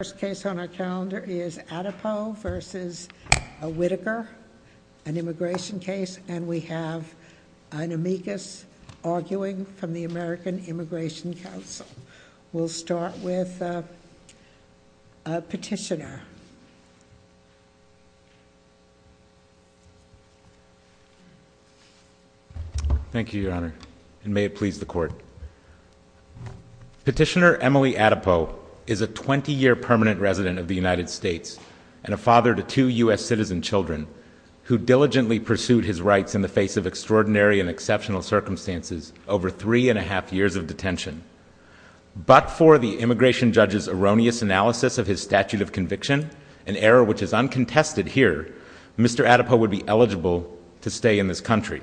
First case on our calendar is Atipoe v. Whitaker, an immigration case, and we have an amicus arguing from the American Immigration Council. We'll start with a petitioner. Thank you, Your Honor, and may it please the Court. Petitioner Emily Atipoe is a 20-year permanent resident of the United States and a father to two U.S. citizen children who diligently pursued his rights in the face of extraordinary and exceptional circumstances over three and a half years of detention. But for the immigration judge's erroneous analysis of his statute of conviction, an error which is uncontested here, Mr. Atipoe would be eligible to stay in this country.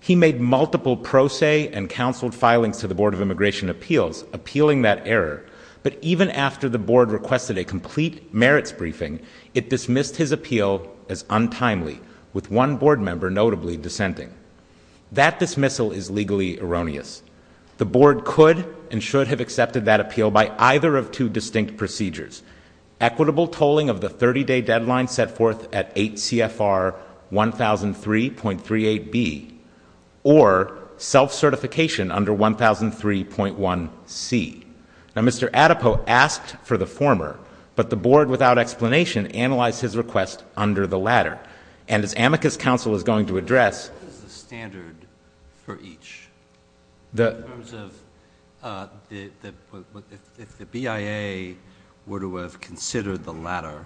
He made multiple pro se and counseled filings to the Board of Immigration Appeals, appealing that error, but even after the Board requested a complete merits briefing, it dismissed his appeal as untimely, with one Board member notably dissenting. That dismissal is legally erroneous. The Board could and should have accepted that appeal by either of two distinct procedures equitable tolling of the 30-day deadline set forth at 8 CFR 1003.38B or self-certification under 1003.1C. Mr. Atipoe asked for the former, but the Board, without explanation, analyzed his request under the latter. And as amicus counsel is going to address... What is the standard for each? In terms of if the BIA were to have considered the latter,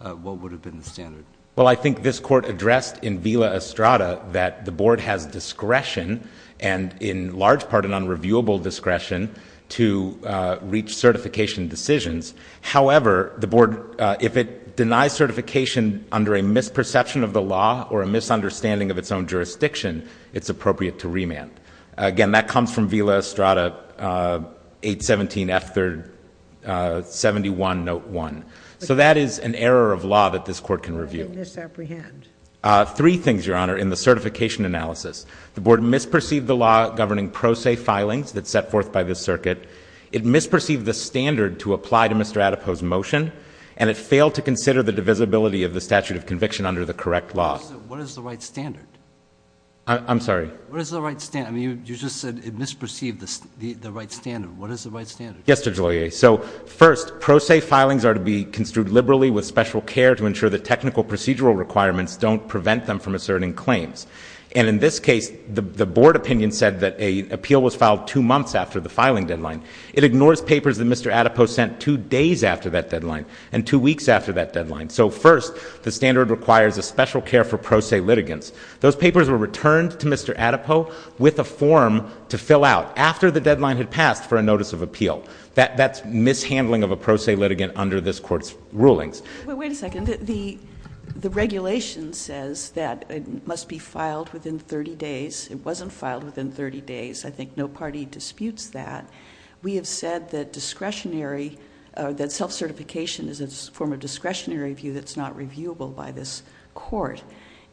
what would have been the standard? Well, I think this Court addressed in Vila Estrada that the Board has discretion, and in large part an unreviewable discretion, to reach certification decisions. However, the Board, if it denies certification under a misperception of the law or a misunderstanding of its own jurisdiction, it's appropriate to remand. Again, that comes from Vila Estrada, 817 F.3rd.71 Note 1. So that is an error of law that this Court can review. Three things, Your Honor, in the certification analysis. The Board misperceived the law governing pro se filings that's set forth by this circuit. It misperceived the standard to apply to Mr. Atipoe's motion, and it failed to consider the divisibility of the statute of conviction under the correct law. What is the right standard? I'm sorry? What is the right standard? I mean, you just said it misperceived the right standard. What is the right standard? Yes, Mr. Joliot. So, first, pro se filings are to be construed liberally with special care to ensure that technical procedural requirements don't prevent them from asserting claims. And in this case, the Board opinion said that an appeal was filed two months after the filing deadline. It ignores papers that Mr. Atipoe sent two days after that deadline and two weeks after that deadline. So, first, the standard requires a special care for pro se litigants. Those papers were returned to Mr. Atipoe with a form to fill out after the deadline had passed for a notice of appeal. That's mishandling of a pro se litigant under this Court's rulings. Wait a second. The regulation says that it must be filed within 30 days. It wasn't filed within 30 days. I think no party disputes that. We have said that self-certification is a form of discretionary review that's not reviewable by this Court.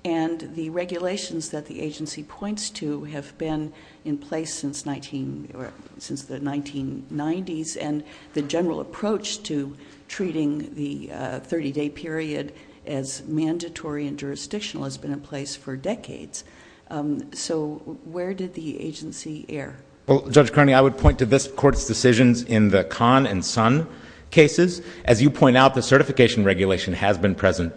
And the regulations that the agency points to have been in place since the 1990s. And the general approach to treating the 30-day period as mandatory and jurisdictional has been in place for decades. So, where did the agency err? Well, Judge Kearney, I would point to this Court's decisions in the Kahn and Son cases. As you point out, the certification regulation has been present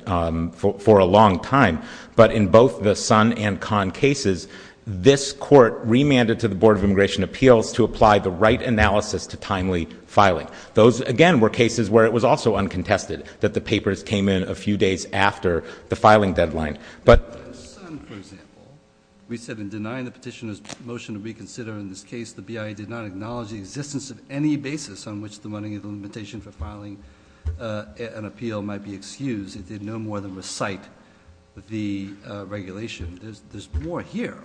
for a long time. But in both the Son and Kahn cases, this Court remanded to the Board of Immigration Appeals to apply the right analysis to timely filing. Those again were cases where it was also uncontested that the papers came in a few days after the filing deadline. But in the Son, for example, we said in denying the petitioner's motion to reconsider in this case, the BIA did not acknowledge the existence of any basis on which the running of the limitation for filing an appeal might be excused. It did no more than recite the regulation. There's more here.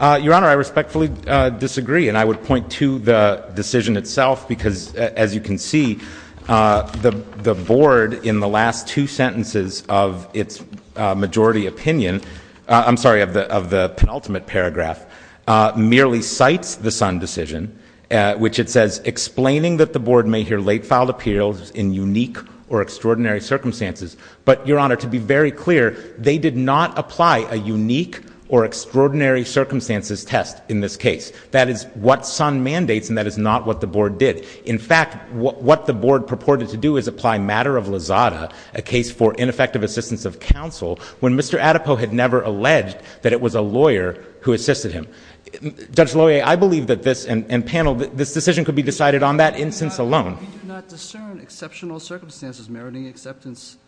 Your Honor, I respectfully disagree. And I would point to the decision itself because, as you can see, the Board in the last two opinions, I'm sorry, of the penultimate paragraph, merely cites the Son decision, which it says explaining that the Board may hear late filed appeals in unique or extraordinary circumstances. But Your Honor, to be very clear, they did not apply a unique or extraordinary circumstances test in this case. That is what Son mandates and that is not what the Board did. In fact, what the Board purported to do is apply Matter of Lazada, a case for ineffective assistance of counsel, when Mr. Adepow had never alleged that it was a lawyer who assisted him. Judge Loyer, I believe that this, and panel, this decision could be decided on that instance alone. We do not discern exceptional circumstances meriting acceptance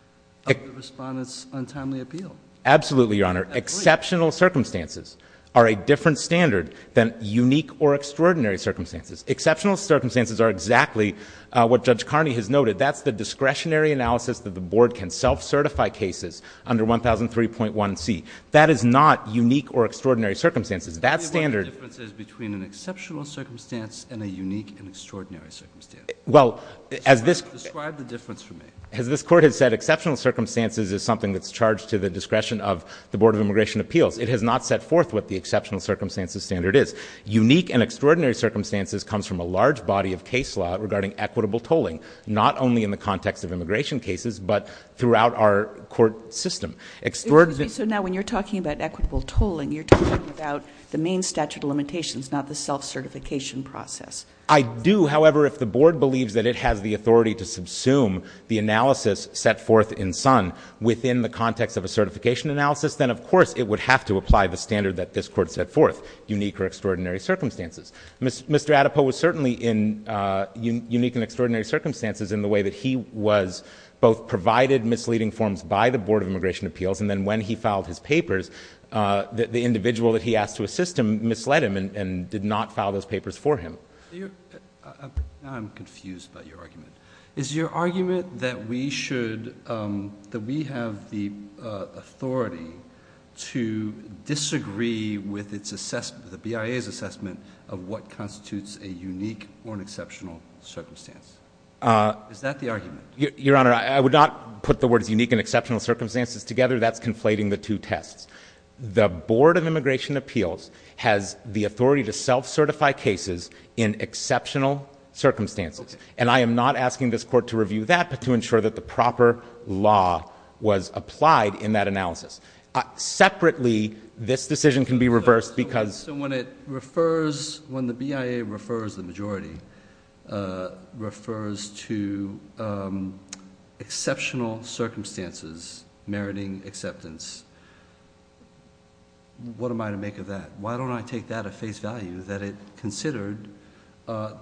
of the Respondent's untimely appeal. Absolutely, Your Honor. Exceptional circumstances are a different standard than unique or extraordinary circumstances. Exceptional circumstances are exactly what Judge Carney has noted. That's the discretionary analysis that the Board can self-certify cases under 1003.1c. That is not unique or extraordinary circumstances. That standard— Tell me what the difference is between an exceptional circumstance and a unique and extraordinary circumstance. Well, as this— Describe the difference for me. As this Court has said, exceptional circumstances is something that's charged to the discretion of the Board of Immigration Appeals. It has not set forth what the exceptional circumstances standard is. Unique and extraordinary circumstances comes from a large body of case law regarding equitable tolling, not only in the context of immigration cases, but throughout our court system. Extraordinary— Excuse me. So now, when you're talking about equitable tolling, you're talking about the main statute of limitations, not the self-certification process. I do. However, if the Board believes that it has the authority to subsume the analysis set forth in SUN within the context of a certification analysis, then of course it would have to apply the standard that this Court set forth, unique or extraordinary circumstances. Mr. Adepow was certainly in unique and extraordinary circumstances in the way that he was both provided misleading forms by the Board of Immigration Appeals, and then when he filed his papers, the individual that he asked to assist him misled him and did not file those papers for him. Now I'm confused about your argument. Is your argument that we should—that we have the authority to disagree with the BIA's assessment of what constitutes a unique or an exceptional circumstance? Is that the argument? Your Honor, I would not put the words unique and exceptional circumstances together. That's conflating the two tests. The Board of Immigration Appeals has the authority to self-certify cases in exceptional circumstances, and I am not asking this Court to review that, but to ensure that the proper law was applied in that analysis. Separately, this decision can be reversed because— So when it refers—when the BIA refers, the majority, refers to exceptional circumstances meriting acceptance, what am I to make of that? Why don't I take that at face value, that it considered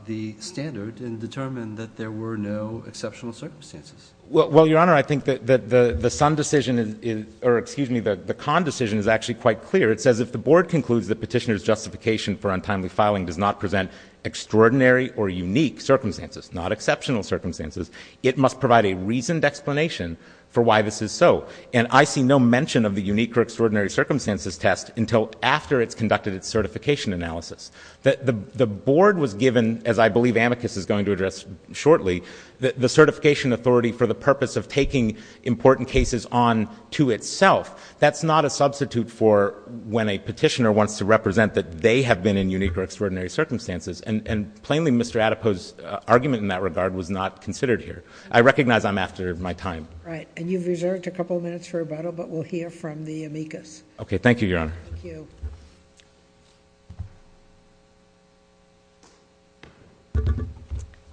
the standard and determined that there were no exceptional circumstances? Well, Your Honor, I think that the Sun decision is—or excuse me, the Kahn decision is actually quite clear. It says if the Board concludes that petitioner's justification for untimely filing does not present extraordinary or unique circumstances, not exceptional circumstances, it must provide a reasoned explanation for why this is so, and I see no mention of the unique or extraordinary circumstances test until after it's conducted its certification analysis. The Board was given, as I believe Amicus is going to address shortly, the certification authority for the purpose of taking important cases on to itself. That's not a substitute for when a petitioner wants to represent that they have been in unique or extraordinary circumstances, and plainly, Mr. Adepo's argument in that regard was not considered here. I recognize I'm after my time. Right. And you've reserved a couple of minutes for rebuttal, but we'll hear from the Amicus. Okay. Thank you, Your Honor. Thank you.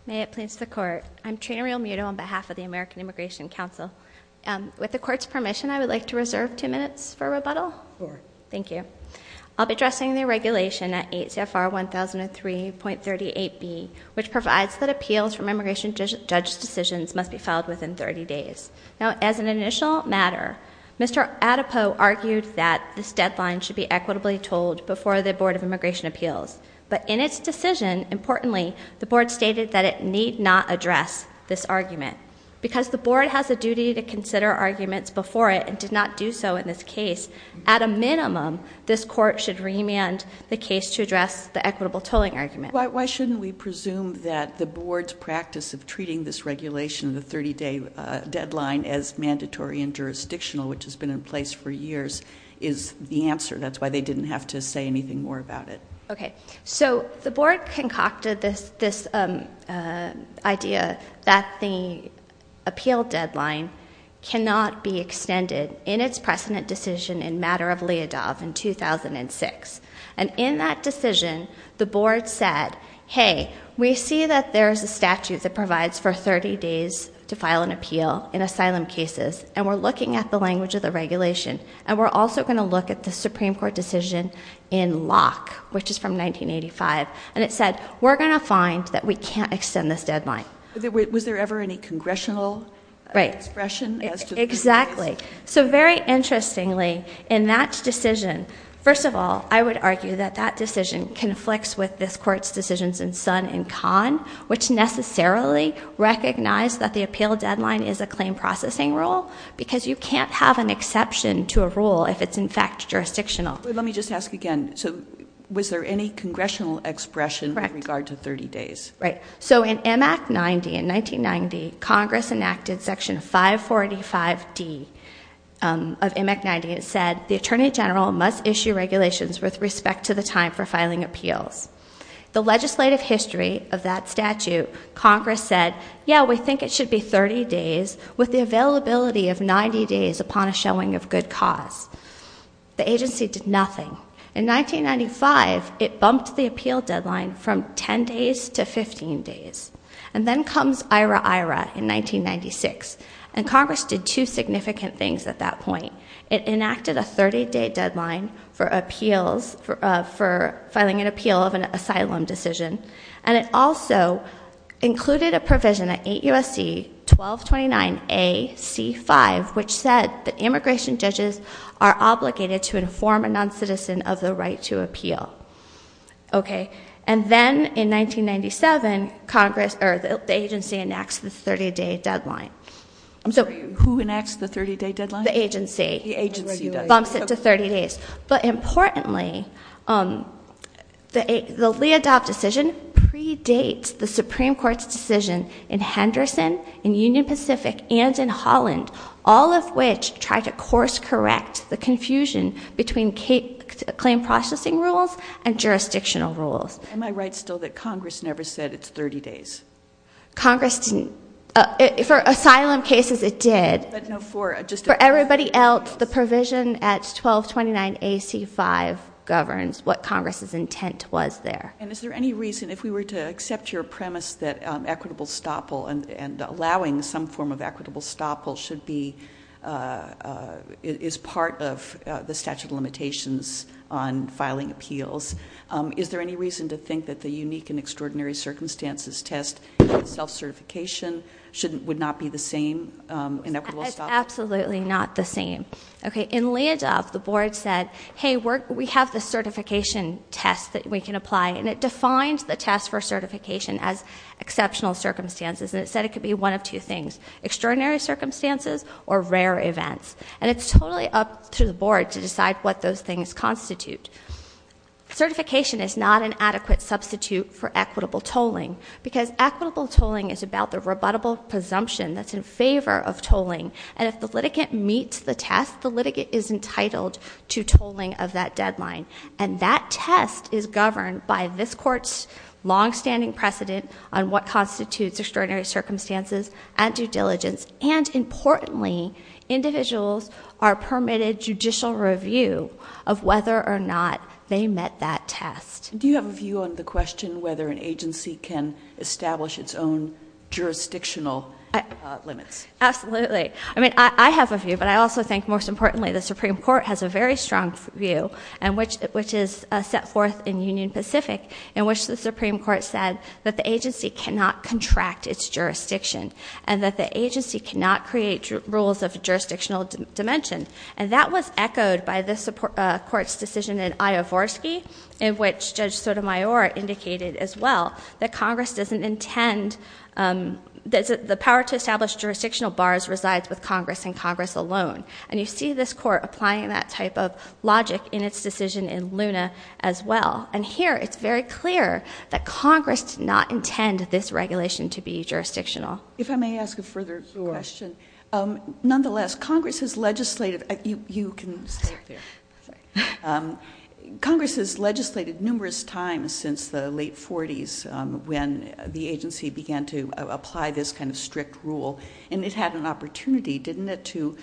May it please the Court. I'm Trina Rial-Muto on behalf of the American Immigration Council. With the Court's permission, I would like to reserve two minutes for rebuttal. Sure. Thank you. I'll be addressing the regulation at ACFR 1003.38B, which provides that appeals from immigration judge decisions must be filed within 30 days. Now, as an initial matter, Mr. Adepo argued that this deadline should be equitably told before the Board of Immigration Appeals, but in its decision, importantly, the Board stated that it need not address this argument. Because the Board has a duty to consider arguments before it, and did not do so in this case, at a minimum, this Court should remand the case to address the equitable tolling argument. Why shouldn't we presume that the Board's practice of treating this regulation, the 30-day deadline, as mandatory and jurisdictional, which has been in place for years, is the answer? That's why they didn't have to say anything more about it. Okay. So the Board concocted this idea that the appeal deadline cannot be extended in its precedent decision in Matter of Leadoff in 2006. And in that decision, the Board said, hey, we see that there's a statute that provides for 30 days to file an appeal in asylum cases, and we're looking at the language of the regulation, and we're also going to look at the Supreme Court decision in Locke, which is from 1985. And it said, we're going to find that we can't extend this deadline. Was there ever any congressional expression as to this? Right. Exactly. So very interestingly, in that decision, first of all, I would argue that that decision conflicts with this Court's decisions in Sun and Kahn, which necessarily recognize that the appeal deadline is a claim processing rule, because you can't have an exception to a rule if it's in fact jurisdictional. Let me just ask again. So was there any congressional expression with regard to 30 days? Right. So in M. Act 90, in 1990, Congress enacted Section 545D of M. Act 90, and it said the Attorney General must issue regulations with respect to the time for filing appeals. The legislative history of that statute, Congress said, yeah, we think it should be 30 days, with the availability of 90 days upon a showing of good cause. The agency did nothing. In 1995, it bumped the appeal deadline from 10 days to 15 days. And then comes IRA-IRA in 1996, and Congress did two significant things at that point. It enacted a 30-day deadline for appeals, for filing an appeal of an asylum decision, and it also included a provision at 8 U.S.C. 1229 A.C. 5, which said that immigration judges are obligated to inform a noncitizen of the right to appeal. Okay. And then in 1997, Congress, or the agency, enacts the 30-day deadline. I'm sorry, who enacts the 30-day deadline? The agency. The agency does. Bumps it to 30 days. But importantly, the Lee Adopt decision predates the Supreme Court's decision in Henderson, in Union Pacific, and in Holland, all of which tried to course correct the confusion between claim processing rules and jurisdictional rules. Am I right still that Congress never said it's 30 days? Congress didn't. For asylum cases, it did. For everybody else, the provision at 1229 A.C. 5 governs what Congress's intent was there. And is there any reason, if we were to accept your premise that equitable stoppal and allowing some form of equitable stoppal should be, is part of the statute of limitations on filing appeals, is there any reason to think that the unique and extraordinary circumstances test self-certification would not be the same in equitable stoppals? Absolutely not the same. Okay, in Lee Adopt, the board said, hey, we have the certification test that we can apply, and it defines the test for certification as exceptional circumstances. And it said it could be one of two things, extraordinary circumstances or rare events. And it's totally up to the board to decide what those things constitute. Certification is not an adequate substitute for equitable tolling. Because equitable tolling is about the rebuttable presumption that's in favor of tolling. And if the litigant meets the test, the litigant is entitled to tolling of that deadline. And that test is governed by this court's longstanding precedent on what constitutes extraordinary circumstances and due diligence. And importantly, individuals are permitted judicial review of whether or not they met that test. Do you have a view on the question whether an agency can establish its own jurisdictional limits? Absolutely, I mean, I have a view, but I also think most importantly, the Supreme Court has a very strong view, which is set forth in Union Pacific, in which the Supreme Court said that the agency cannot contract its jurisdiction. And that the agency cannot create rules of jurisdictional dimension. And that was echoed by this court's decision in Iovorsky, in which Judge Sotomayor indicated as well that Congress doesn't intend, that the power to establish jurisdictional bars resides with Congress and Congress alone. And you see this court applying that type of logic in its decision in Luna as well. And here, it's very clear that Congress did not intend this regulation to be jurisdictional. If I may ask a further question. Sure. Nonetheless, Congress has legislated, you can stay up there. Congress has legislated numerous times since the late 40s when the agency began to apply this kind of strict rule. And it had an opportunity, didn't it, to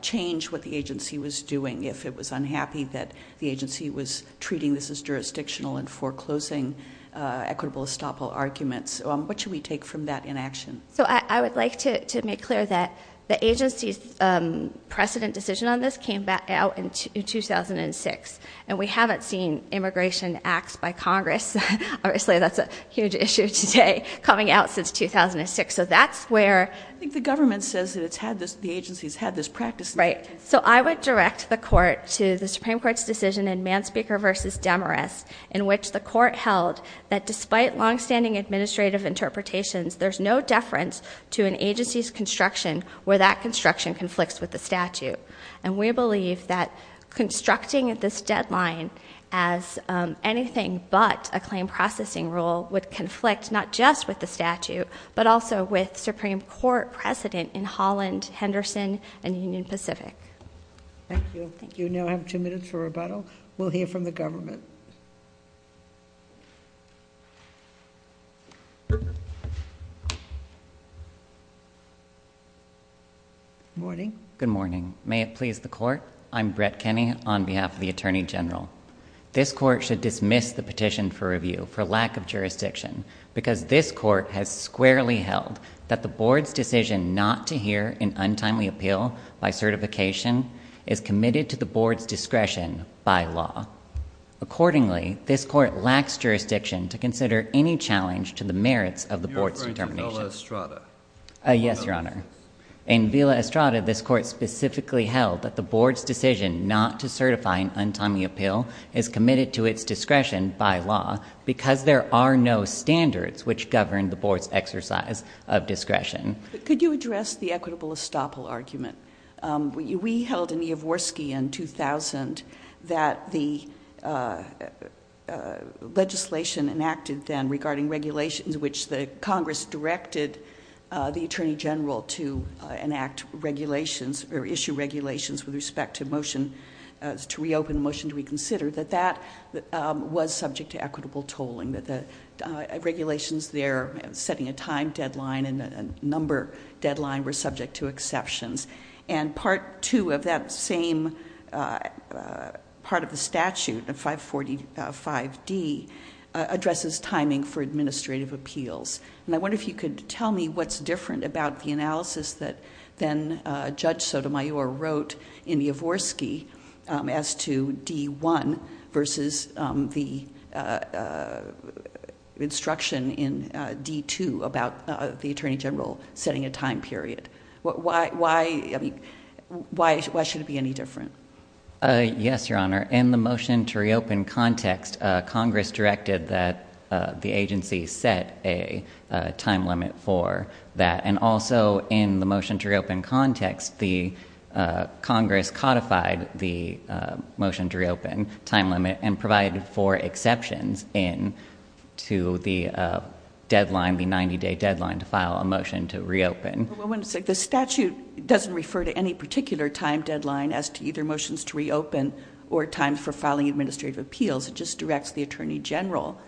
change what the agency was doing, if it was unhappy that the agency was treating this as jurisdictional and foreclosing equitable estoppel arguments. What should we take from that inaction? So I would like to make clear that the agency's precedent decision on this came back out in 2006. And we haven't seen immigration acts by Congress. Obviously, that's a huge issue today, coming out since 2006. So that's where- I think the government says that the agency's had this practice. Right. So I would direct the court to the Supreme Court's decision in Manspeaker versus Demarest, in which the court held that despite longstanding administrative interpretations, there's no deference to an agency's construction where that construction conflicts with the statute. And we believe that constructing this deadline as anything but a claim processing rule would conflict not just with the statute, but also with Supreme Court precedent in Holland, Henderson, and Union Pacific. Thank you. Thank you. You now have two minutes for rebuttal. We'll hear from the government. Morning. Good morning. May it please the court, I'm Brett Kenney on behalf of the Attorney General. This court should dismiss the petition for review for lack of jurisdiction, because this court has squarely held that the board's decision not to hear an untimely appeal by certification is committed to the board's discretion by law. Accordingly, this court lacks jurisdiction to consider any challenge to the merits of the board's determination. You're referring to Villa Estrada. Yes, your honor. In Villa Estrada, this court specifically held that the board's decision not to certify an untimely appeal is committed to its discretion by law because there are no standards which govern the board's exercise of discretion. Could you address the equitable estoppel argument? We held in Iovorski in 2000 that the legislation enacted then regarding regulations, which the Congress directed the Attorney General to enact regulations or to reopen the motion to reconsider, that that was subject to equitable tolling. That the regulations there setting a time deadline and a number deadline were subject to exceptions. And part two of that same part of the statute, 545D, addresses timing for administrative appeals. And I wonder if you could tell me what's different about the analysis that then Judge Sotomayor wrote in Iovorski as to D1 versus the instruction in D2 about the Attorney General setting a time period. Why should it be any different? Yes, your honor. In the motion to reopen context, Congress directed that the agency set a time limit for that. And also in the motion to reopen context, the Congress codified the motion to reopen, time limit, and provided for exceptions in to the deadline, the 90 day deadline to file a motion to reopen. The statute doesn't refer to any particular time deadline as to either motions to reopen or time for filing administrative appeals. It just directs the Attorney General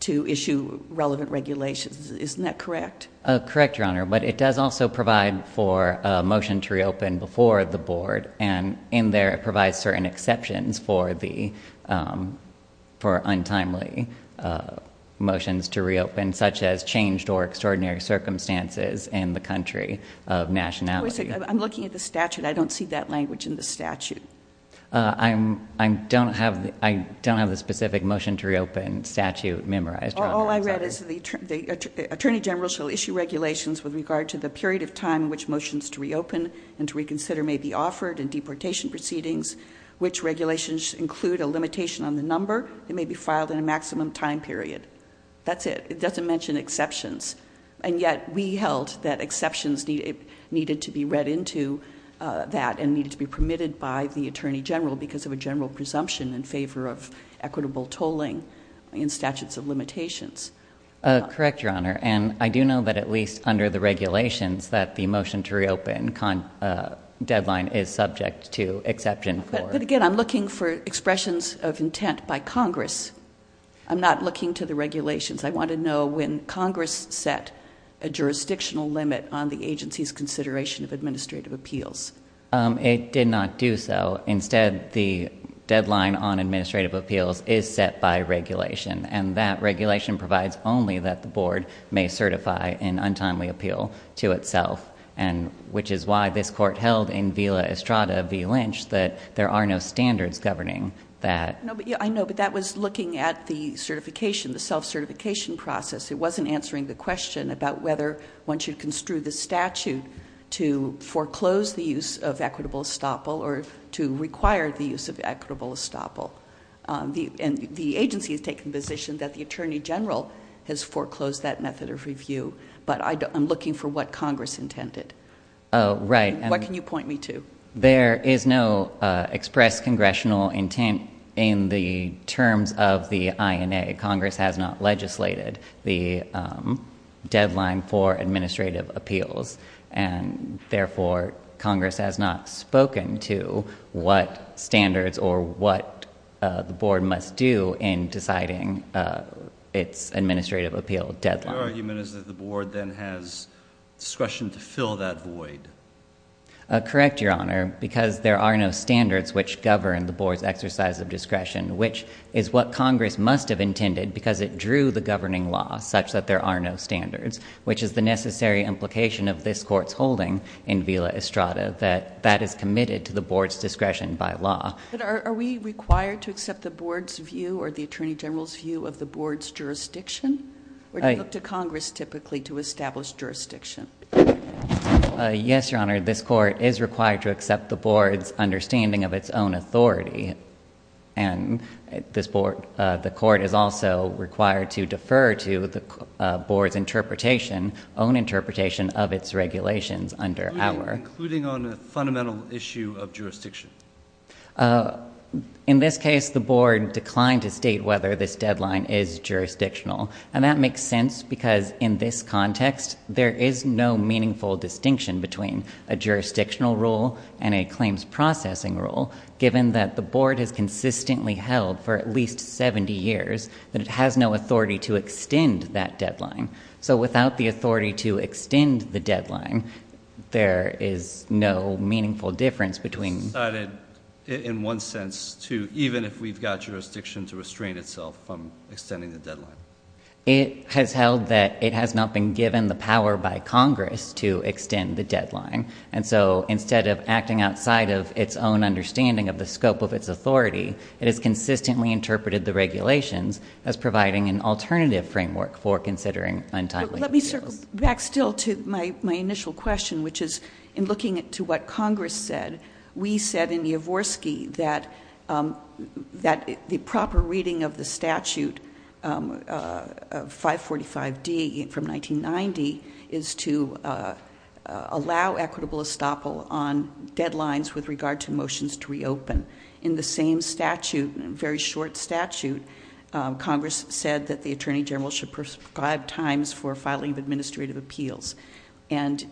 to issue relevant regulations. Isn't that correct? Correct, your honor. But it does also provide for a motion to reopen before the board. And in there it provides certain exceptions for untimely motions to reopen, such as changed or extraordinary circumstances in the country of nationality. Wait a second, I'm looking at the statute. I don't see that language in the statute. I don't have the specific motion to reopen statute memorized, your honor. All I read is the Attorney General shall issue regulations with regard to the period of time in which motions to reopen and to reconsider may be offered in deportation proceedings, which regulations include a limitation on the number. It may be filed in a maximum time period. That's it. It doesn't mention exceptions. And yet we held that exceptions needed to be read into that and they needed to be permitted by the Attorney General because of a general presumption in favor of equitable tolling in statutes of limitations. Correct, your honor. And I do know that at least under the regulations that the motion to reopen deadline is subject to exception for. But again, I'm looking for expressions of intent by Congress. I'm not looking to the regulations. I want to know when Congress set a jurisdictional limit on the agency's consideration of administrative appeals. It did not do so. Instead, the deadline on administrative appeals is set by regulation. And that regulation provides only that the board may certify an untimely appeal to itself. And which is why this court held in Villa Estrada v Lynch that there are no standards governing that. No, but I know, but that was looking at the certification, the self-certification process. It wasn't answering the question about whether one should construe the statute to foreclose the use of equitable estoppel or to require the use of equitable estoppel, and the agency has taken the position that the Attorney General has foreclosed that method of review. But I'm looking for what Congress intended. Right. What can you point me to? There is no express congressional intent in the terms of the INA. Congress has not legislated. The deadline for administrative appeals, and therefore, Congress has not spoken to what standards or what the board must do in deciding its administrative appeal deadline. Your argument is that the board then has discretion to fill that void. Correct, Your Honor, because there are no standards which govern the board's exercise of discretion, which is what Congress must have intended because it drew the governing law such that there are no standards, which is the necessary implication of this court's holding in Villa Estrada, that that is committed to the board's discretion by law. But are we required to accept the board's view or the Attorney General's view of the board's jurisdiction? Or do you look to Congress typically to establish jurisdiction? Yes, Your Honor, this court is required to accept the board's understanding of its own authority. And the court is also required to defer to the board's own interpretation of its regulations under our- Including on a fundamental issue of jurisdiction. In this case, the board declined to state whether this deadline is jurisdictional. And that makes sense because in this context, there is no meaningful distinction between a jurisdictional rule and a claims processing rule, given that the board has consistently held for at least 70 years, that it has no authority to extend that deadline. So without the authority to extend the deadline, there is no meaningful difference between- It's decided in one sense to, even if we've got jurisdiction, to restrain itself from extending the deadline. It has held that it has not been given the power by Congress to extend the deadline. And so instead of acting outside of its own understanding of the scope of its authority, it has consistently interpreted the regulations as providing an alternative framework for considering untimely- Let me circle back still to my initial question, which is in looking to what Congress said, we said in Yavorsky that the proper reading of the statute 545D from 1990 is to allow equitable estoppel on deadlines with regard to motions to reopen. In the same statute, very short statute, Congress said that the Attorney General should prescribe times for filing of administrative appeals, and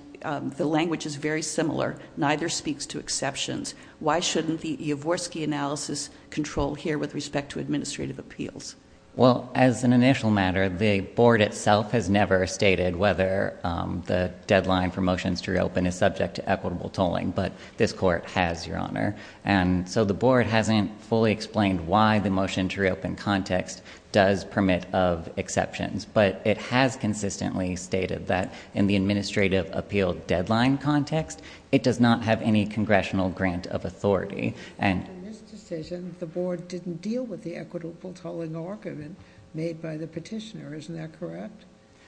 the language is very similar. Neither speaks to exceptions. Why shouldn't the Yavorsky analysis control here with respect to administrative appeals? Well, as an initial matter, the board itself has never stated whether the deadline for motions to reopen is subject to equitable tolling, but this court has, Your Honor. And so the board hasn't fully explained why the motion to reopen context does permit of exceptions. But it has consistently stated that in the administrative appeal deadline context, In this decision, the board didn't deal with the equitable tolling argument made by the petitioner, isn't that correct?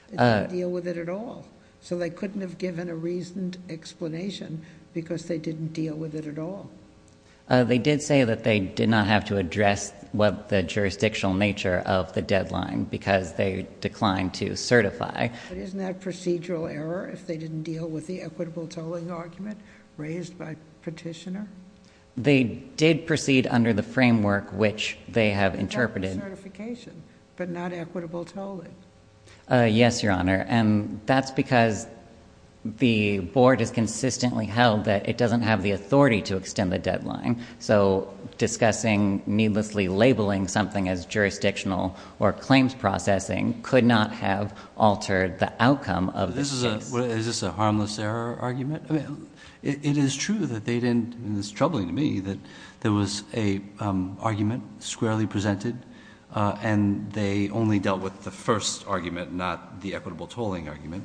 They didn't deal with it at all. So they couldn't have given a reasoned explanation because they didn't deal with it at all. They did say that they did not have to address the jurisdictional nature of the deadline because they declined to certify. Isn't that procedural error if they didn't deal with the equitable tolling argument raised by petitioner? They did proceed under the framework which they have interpreted. Certification, but not equitable tolling. Yes, Your Honor. And that's because the board has consistently held that it doesn't have the authority to extend the deadline. So discussing needlessly labeling something as jurisdictional or claims processing could not have altered the outcome of this case. Is this a harmless error argument? It is true that they didn't, and it's troubling to me, that there was a argument squarely presented. And they only dealt with the first argument, not the equitable tolling argument.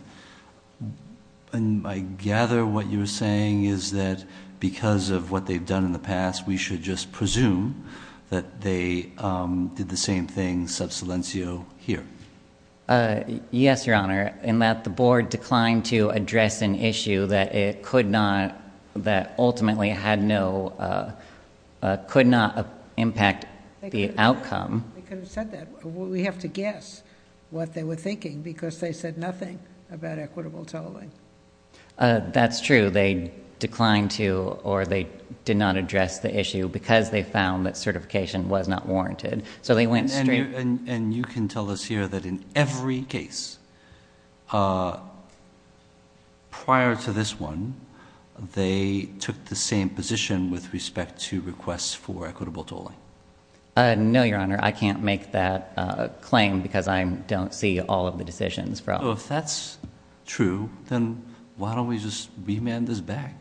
And I gather what you're saying is that because of what they've done in the past, we should just presume that they did the same thing sub silencio here. Yes, Your Honor, in that the board declined to address an issue that it could not, that ultimately had no, could not impact the outcome. They could have said that. We have to guess what they were thinking, because they said nothing about equitable tolling. That's true. They declined to, or they did not address the issue, because they found that certification was not warranted. So they went straight. And you can tell us here that in every case, prior to this one, they took the same position with respect to requests for equitable tolling. No, Your Honor, I can't make that claim, because I don't see all of the decisions from. So if that's true, then why don't we just remand this back?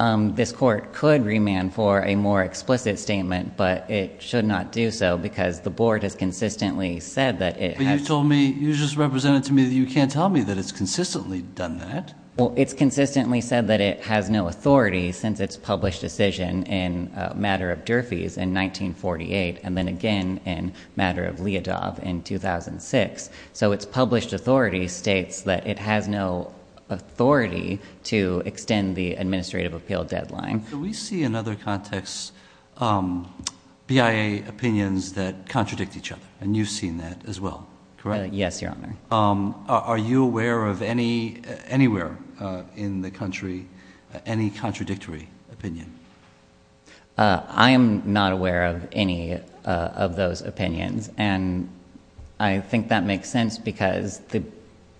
This court could remand for a more explicit statement, but it should not do so, because the board has consistently said that it has. But you told me, you just represented to me that you can't tell me that it's consistently done that. Well, it's consistently said that it has no authority, since it's published decision in a matter of Durfee's in 1948, and then again in matter of Leodov in 2006. So it's published authority states that it has no authority to extend the administrative appeal deadline. Do we see in other contexts BIA opinions that contradict each other? And you've seen that as well, correct? Yes, Your Honor. Are you aware of anywhere in the country any contradictory opinion? I am not aware of any of those opinions. And I think that makes sense, because the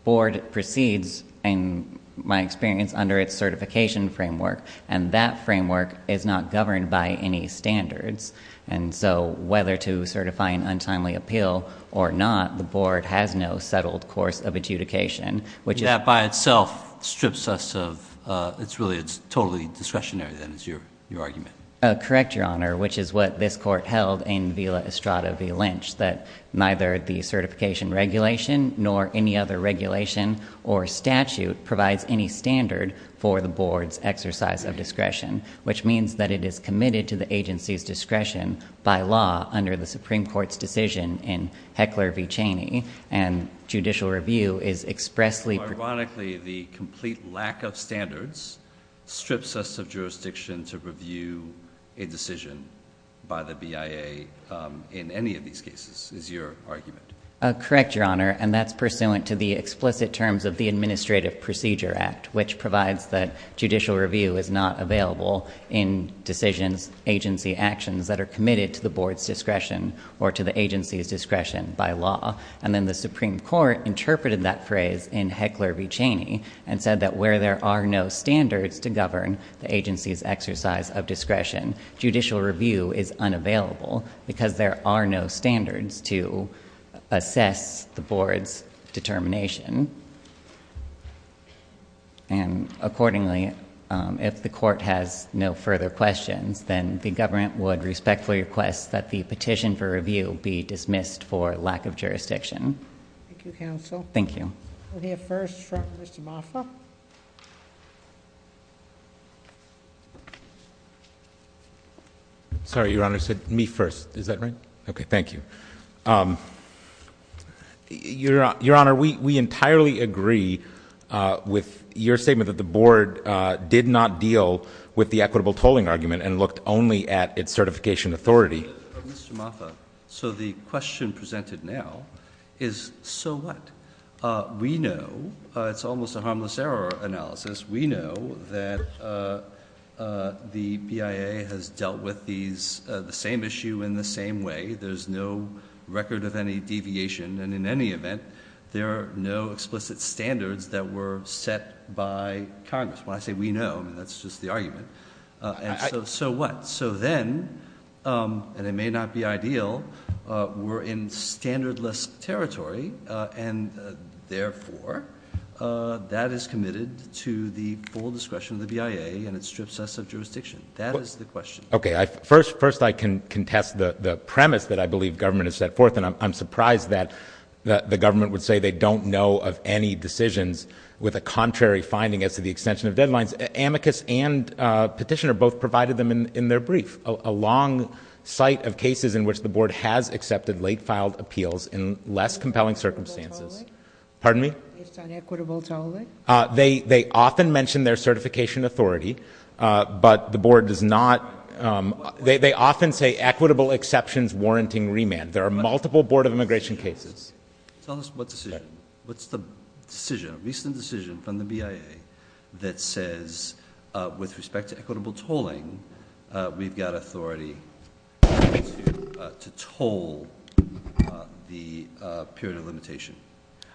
board proceeds, in my experience, under its certification framework, and that framework is not governed by any standards. And so whether to certify an untimely appeal or not, the board has no settled course of adjudication, which is- That by itself strips us of, it's really, it's totally discretionary then, is your argument. Correct, Your Honor, which is what this court held in Villa Estrada v. Lynch, that neither the certification regulation nor any other regulation or statute provides any standard for the board's exercise of discretion. Which means that it is committed to the agency's discretion by law under the Supreme Court's decision in Heckler v. Cheney. And judicial review is expressly- A decision by the BIA in any of these cases, is your argument. Correct, Your Honor, and that's pursuant to the explicit terms of the Administrative Procedure Act, which provides that judicial review is not available in decisions, agency actions that are committed to the board's discretion or to the agency's discretion by law. And then the Supreme Court interpreted that phrase in Heckler v. Cheney and said that where there are no standards to govern the agency's exercise of discretion, judicial review is unavailable because there are no standards to assess the board's determination. And accordingly, if the court has no further questions, then the government would respectfully request that the petition for review be dismissed for lack of jurisdiction. Thank you, counsel. Thank you. We'll hear first from Mr. Moffa. Sorry, Your Honor, I said me first. Is that right? Okay, thank you. Your Honor, we entirely agree with your statement that the board did not deal with the equitable tolling argument and looked only at its certification authority. Mr. Moffa, so the question presented now is, so what? We know, it's almost a harmless error analysis. We know that the BIA has dealt with the same issue in the same way. There's no record of any deviation. And in any event, there are no explicit standards that were set by Congress. When I say we know, that's just the argument. And so what? So then, and it may not be ideal, we're in standardless territory. And therefore, that is committed to the full discretion of the BIA, and it strips us of jurisdiction. That is the question. Okay, first I can contest the premise that I believe government has set forth. And I'm surprised that the government would say they don't know of any decisions with a contrary finding as to the extension of deadlines. Amicus and Petitioner both provided them in their brief a long site of cases in which the board has accepted late filed appeals in less compelling circumstances. Pardon me? It's on equitable tolling? They often mention their certification authority, but the board does not. They often say equitable exceptions warranting remand. There are multiple board of immigration cases. Tell us what decision. What's the decision, recent decision from the BIA that says with respect to equitable tolling, we've got authority to toll the period of limitation?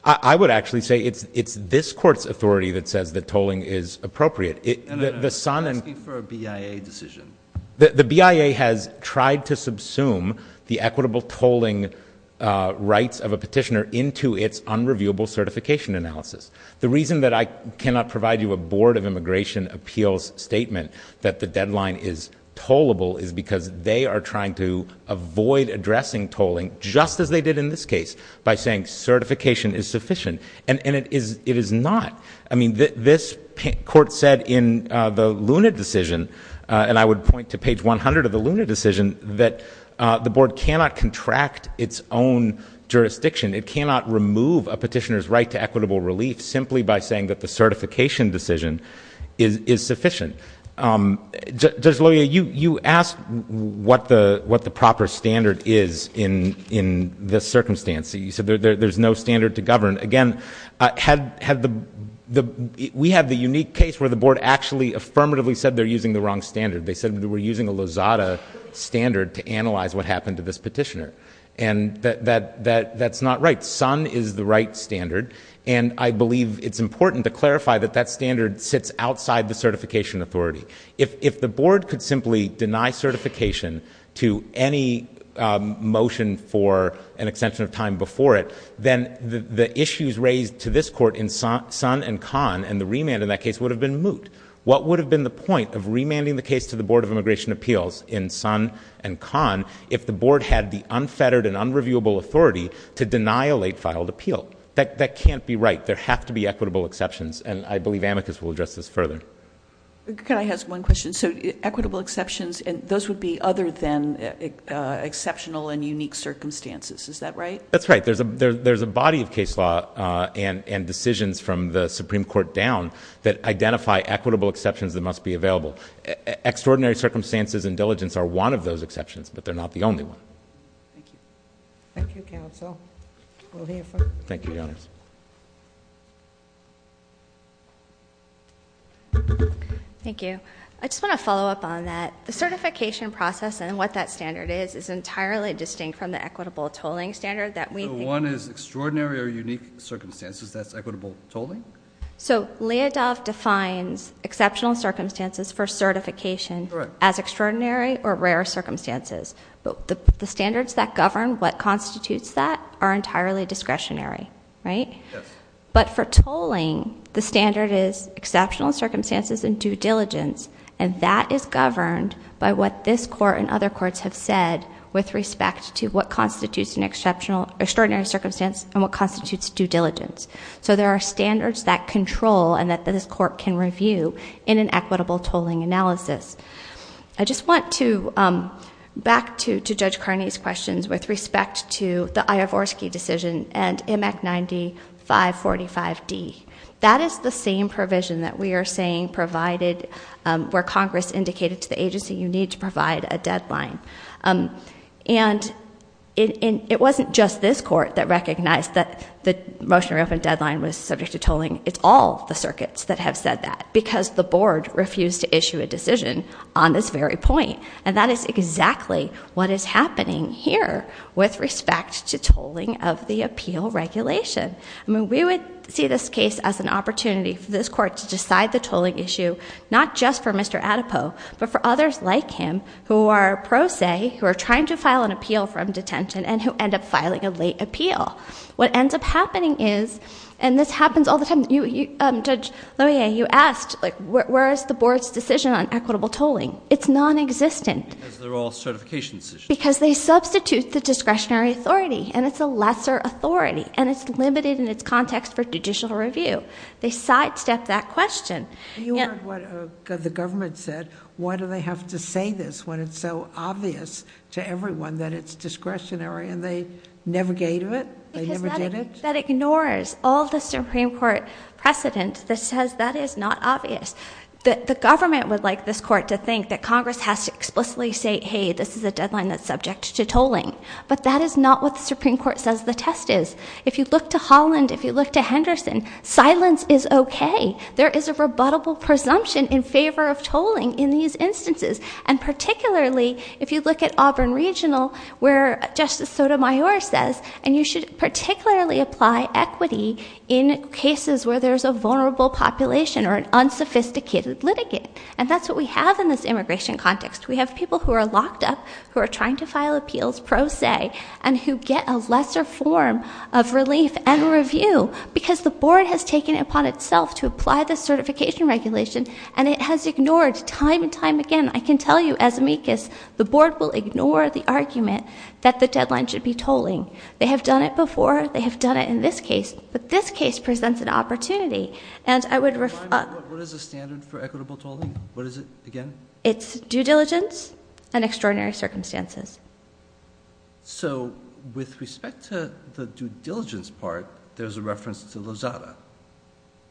I would actually say it's this court's authority that says that tolling is appropriate. The son- I'm asking for a BIA decision. The BIA has tried to subsume the equitable tolling rights of a petitioner into its unreviewable certification analysis. The reason that I cannot provide you a board of immigration appeals statement that the deadline is tollable is because they are trying to avoid addressing tolling, just as they did in this case, by saying certification is sufficient. And it is not. I mean, this court said in the Luna decision, and I would point to page 100 of the Luna decision, that the board cannot contract its own jurisdiction. It cannot remove a petitioner's right to equitable relief simply by saying that the certification decision is sufficient. Judge Loya, you asked what the proper standard is in this circumstance. You said there's no standard to govern. Again, we have the unique case where the board actually affirmatively said they're using the wrong standard. They said we're using a Lozada standard to analyze what happened to this petitioner. And that's not right. SUN is the right standard. And I believe it's important to clarify that that standard sits outside the certification authority. If the board could simply deny certification to any motion for an extension of time before it, then the issues raised to this court in SUN and CON and the remand in that case would have been moot. What would have been the point of remanding the case to the Board of Immigration Appeals in SUN and CON, which has unfettered and unreviewable authority, to deny a late filed appeal? That can't be right. There have to be equitable exceptions, and I believe amicus will address this further. Can I ask one question? So equitable exceptions, those would be other than exceptional and unique circumstances. Is that right? That's right. There's a body of case law and decisions from the Supreme Court down that identify equitable exceptions that must be available. Extraordinary circumstances and diligence are one of those exceptions, but they're not the only one. Thank you, Counsel. We'll hear from- Thank you, Your Honor. Thank you. I just want to follow up on that. The certification process and what that standard is, is entirely distinct from the equitable tolling standard that we- So one is extraordinary or unique circumstances, that's equitable tolling? So, Leodov defines exceptional circumstances for certification as extraordinary or rare circumstances. But the standards that govern what constitutes that are entirely discretionary, right? But for tolling, the standard is exceptional circumstances and due diligence. And that is governed by what this court and other courts have said with respect to what constitutes an extraordinary circumstance and what constitutes due diligence. So there are standards that control and that this court can review in an equitable tolling analysis. I just want to, back to Judge Carney's questions with respect to the Iovorsky decision and MEC 9545D. That is the same provision that we are saying provided where Congress indicated to the agency you need to provide a deadline. And it wasn't just this court that recognized that the motion to reopen deadline was subject to tolling. It's all the circuits that have said that, because the board refused to issue a decision on this very point. And that is exactly what is happening here with respect to tolling of the appeal regulation. I mean, we would see this case as an opportunity for this court to decide the tolling issue, not just for Mr. Adepo. But for others like him, who are pro se, who are trying to file an appeal from detention, and who end up filing a late appeal. What ends up happening is, and this happens all the time. Judge Lohier, you asked, where is the board's decision on equitable tolling? It's non-existent. Because they're all certification decisions. Because they substitute the discretionary authority, and it's a lesser authority, and it's limited in its context for judicial review. They sidestep that question. You heard what the government said. Why do they have to say this when it's so obvious to everyone that it's discretionary, and they never gave it? They never did it? That ignores all the Supreme Court precedent that says that is not obvious. The government would like this court to think that Congress has to explicitly say, hey, this is a deadline that's subject to tolling. But that is not what the Supreme Court says the test is. If you look to Holland, if you look to Henderson, silence is okay. There is a rebuttable presumption in favor of tolling in these instances. And particularly, if you look at Auburn Regional, where Justice Sotomayor says, and you should particularly apply equity in cases where there's a vulnerable population or an unsophisticated litigate. And that's what we have in this immigration context. We have people who are locked up, who are trying to file appeals pro se, and who get a lesser form of relief and review. Because the board has taken it upon itself to apply the certification regulation, and it has ignored time and time again. I can tell you, as amicus, the board will ignore the argument that the deadline should be tolling. They have done it before, they have done it in this case, but this case presents an opportunity. And I would- What is the standard for equitable tolling? What is it again? It's due diligence and extraordinary circumstances. So, with respect to the due diligence part, there's a reference to Lozada.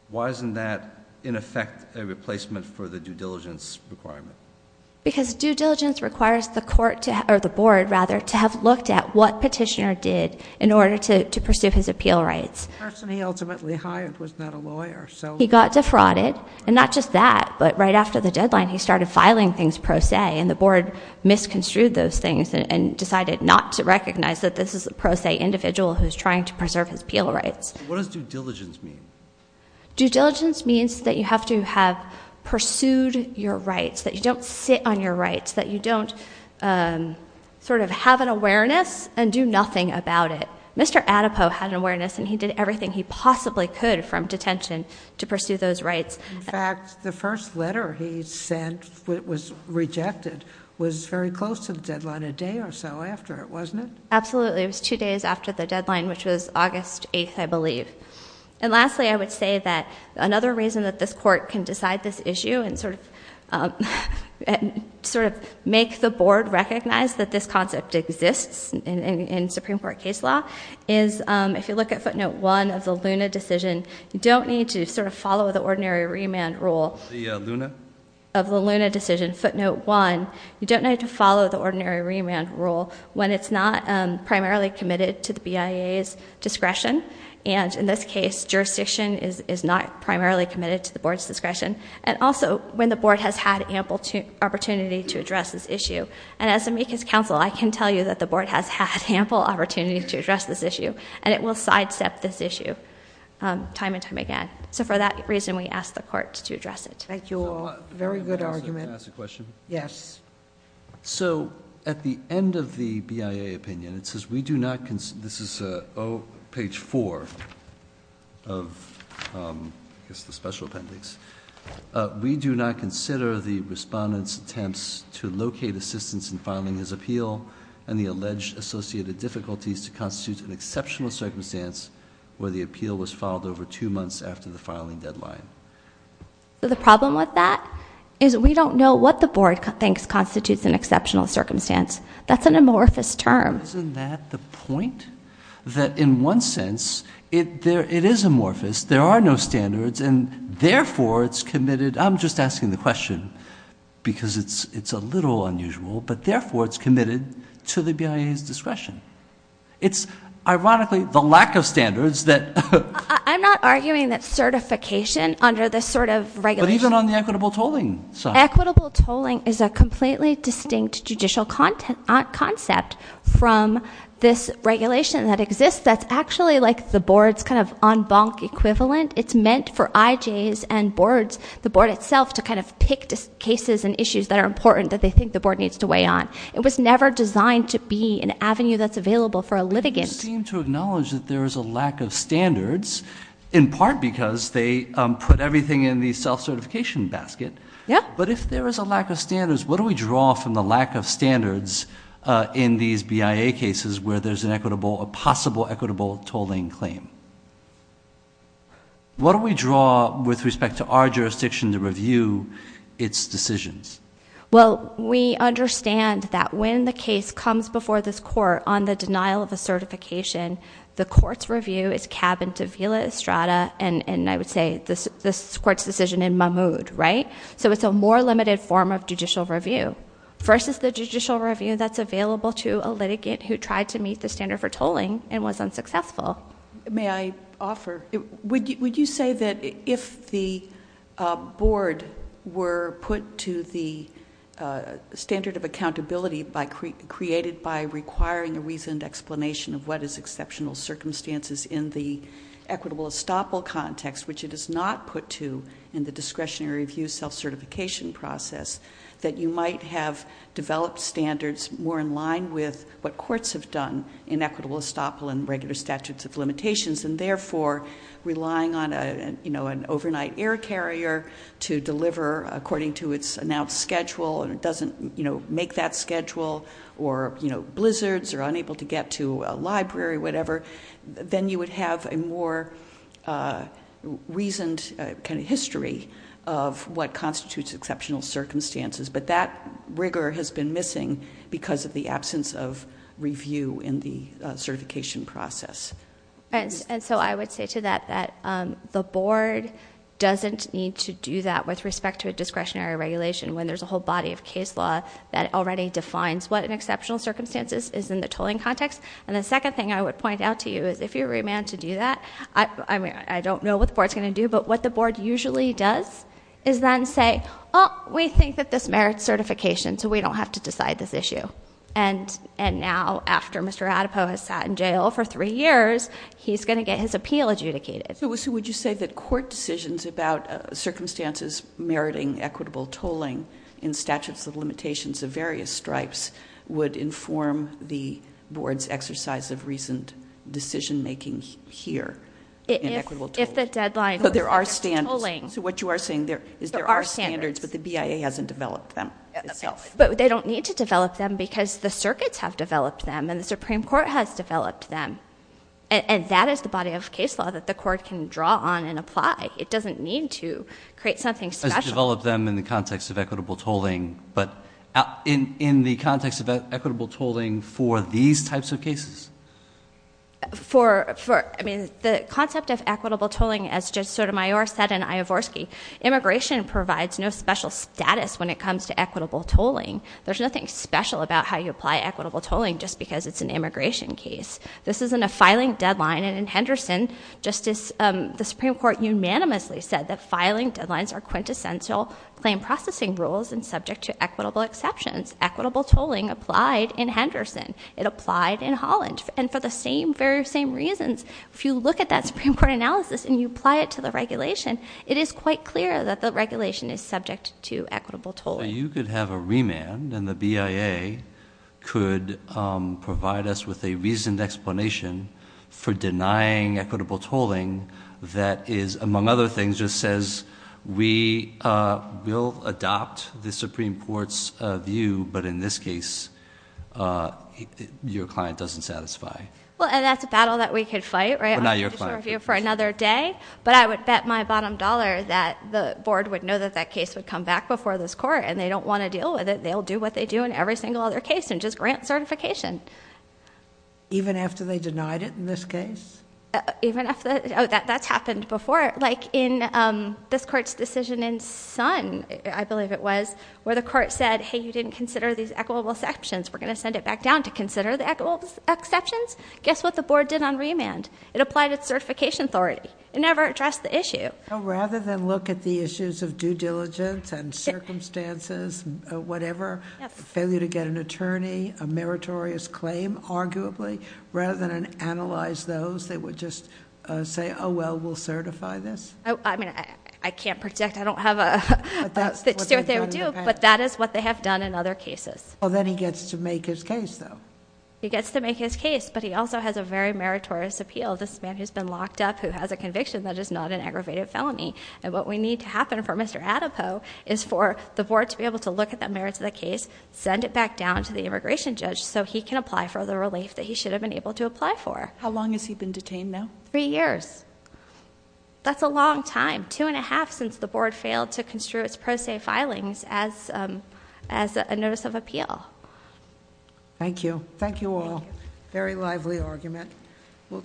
Why isn't that, in effect, a replacement for the due diligence requirement? Because due diligence requires the board to have looked at what petitioner did in order to pursue his appeal rights. The person he ultimately hired was not a lawyer, so- He got defrauded, and not just that. But right after the deadline, he started filing things pro se, and the board misconstrued those things and decided not to recognize that this is a pro se individual who's trying to preserve his appeal rights. What does due diligence mean? Due diligence means that you have to have pursued your rights, that you don't sit on your rights, that you don't sort of have an awareness and do nothing about it. Mr. Adepo had an awareness, and he did everything he possibly could from detention to pursue those rights. In fact, the first letter he sent was rejected, was very close to the deadline, a day or so after it, wasn't it? Absolutely, it was two days after the deadline, which was August 8th, I believe. And lastly, I would say that another reason that this court can decide this issue and sort of make the board recognize that this concept exists in Supreme Court case law, is if you look at footnote one of the Luna decision, you don't need to sort of follow the ordinary remand rule. The Luna? Of the Luna decision, footnote one, you don't need to follow the ordinary remand rule when it's not primarily committed to the BIA's discretion. And in this case, jurisdiction is not primarily committed to the board's discretion. And also, when the board has had ample opportunity to address this issue. And as amicus counsel, I can tell you that the board has had ample opportunity to address this issue, and it will sidestep this issue time and time again. So for that reason, we ask the court to address it. Thank you all. Very good argument. Can I ask a question? Yes. So, at the end of the BIA opinion, it says we do not, this is page four of the special appendix. We do not consider the respondent's attempts to locate assistance in filing his appeal. And the alleged associated difficulties to constitute an exceptional circumstance where the appeal was filed over two months after the filing deadline. The problem with that is we don't know what the board thinks constitutes an exceptional circumstance. That's an amorphous term. Isn't that the point? That in one sense, it is amorphous. There are no standards, and therefore, it's committed, I'm just asking the question, because it's a little unusual, but therefore, it's committed to the BIA's discretion. It's, ironically, the lack of standards that- I'm not arguing that certification under this sort of regulation- But even on the equitable tolling side. Equitable tolling is a completely distinct judicial concept from this regulation that exists. That's actually like the board's kind of en banc equivalent. It's meant for IJs and boards, the board itself, to kind of pick cases and issues that are important that they think the board needs to weigh on. It was never designed to be an avenue that's available for a litigant. You seem to acknowledge that there is a lack of standards, in part because they put everything in the self-certification basket. Yeah. But if there is a lack of standards, what do we draw from the lack of standards in these BIA cases where there's a possible equitable tolling claim? What do we draw with respect to our jurisdiction to review its decisions? Well, we understand that when the case comes before this court on the denial of a certification, the court's review is Cabin to Villa Estrada, and I would say this court's decision in Mahmood, right? So it's a more limited form of judicial review. First is the judicial review that's available to a litigant who tried to meet the standard for tolling and was unsuccessful. May I offer, would you say that if the board were put to the standard of accountability created by requiring a reasoned explanation of what is exceptional circumstances in the equitable estoppel context, which it is not put to in the discretionary review self-certification process, that you might have developed standards more in line with what courts have done in equitable estoppel and regular statutes of limitations, and therefore relying on an overnight air carrier to deliver according to its announced schedule, and it doesn't make that schedule, or blizzards, or unable to get to a library, whatever. Then you would have a more reasoned kind of history of what constitutes exceptional circumstances, but that rigor has been missing because of the absence of review in the certification process. And so I would say to that that the board doesn't need to do that with respect to a discretionary regulation, when there's a whole body of case law that already defines what an exceptional circumstances is in the tolling context. And the second thing I would point out to you is if you're remanded to do that, I don't know what the board's going to do, but what the board usually does is then say, we think that this merits certification, so we don't have to decide this issue. And now, after Mr. Adepow has sat in jail for three years, he's going to get his appeal adjudicated. So would you say that court decisions about circumstances meriting equitable tolling in statutes of limitations of various stripes would inform the board's exercise of recent decision making here? In equitable tolling. If the deadline- But there are standards. So what you are saying there is there are standards, but the BIA hasn't developed them itself. But they don't need to develop them because the circuits have developed them and the Supreme Court has developed them. And that is the body of case law that the court can draw on and apply. It doesn't need to create something special. As to develop them in the context of equitable tolling, but in the context of equitable tolling for these types of cases? For, I mean, the concept of equitable tolling, as Judge Sotomayor said in Iovorsky, immigration provides no special status when it comes to equitable tolling. There's nothing special about how you apply equitable tolling just because it's an immigration case. This isn't a filing deadline. And in Henderson, Justice, the Supreme Court unanimously said that filing deadlines are quintessential claim processing rules and subject to equitable exceptions. Equitable tolling applied in Henderson. It applied in Holland. And for the same, very same reasons, if you look at that Supreme Court analysis and you apply it to the regulation, it is quite clear that the regulation is subject to equitable tolling. So you could have a remand and the BIA could provide us with a reasoned explanation for denying equitable tolling that is, among other things, just says, we will adopt the Supreme Court's view, but in this case, your client doesn't satisfy. Well, and that's a battle that we could fight, right? Well, not your client. For another day. But I would bet my bottom dollar that the board would know that that case would come back before this court and they don't want to deal with it. They'll do what they do in every single other case and just grant certification. Even after they denied it in this case? Even after, that's happened before. Like in this court's decision in Sun, I believe it was, where the court said, hey, you didn't consider these equitable exceptions. We're going to send it back down to consider the equitable exceptions. Guess what the board did on remand? It applied its certification authority. It never addressed the issue. Rather than look at the issues of due diligence and circumstances, whatever. Failure to get an attorney, a meritorious claim, arguably. Rather than analyze those, they would just say, well, we'll certify this. I mean, I can't predict, I don't have a, to see what they would do, but that is what they have done in other cases. Well, then he gets to make his case, though. He gets to make his case, but he also has a very meritorious appeal. This man who's been locked up who has a conviction that is not an aggravated felony. And what we need to happen for Mr. Adepo is for the board to be able to look at the merits of the case, send it back down to the immigration judge so he can apply for the relief that he should have been able to apply for. How long has he been detained now? Three years. That's a long time, two and a half, since the board failed to construe its pro se filings as a notice of appeal. Thank you. Thank you all. Very lively argument.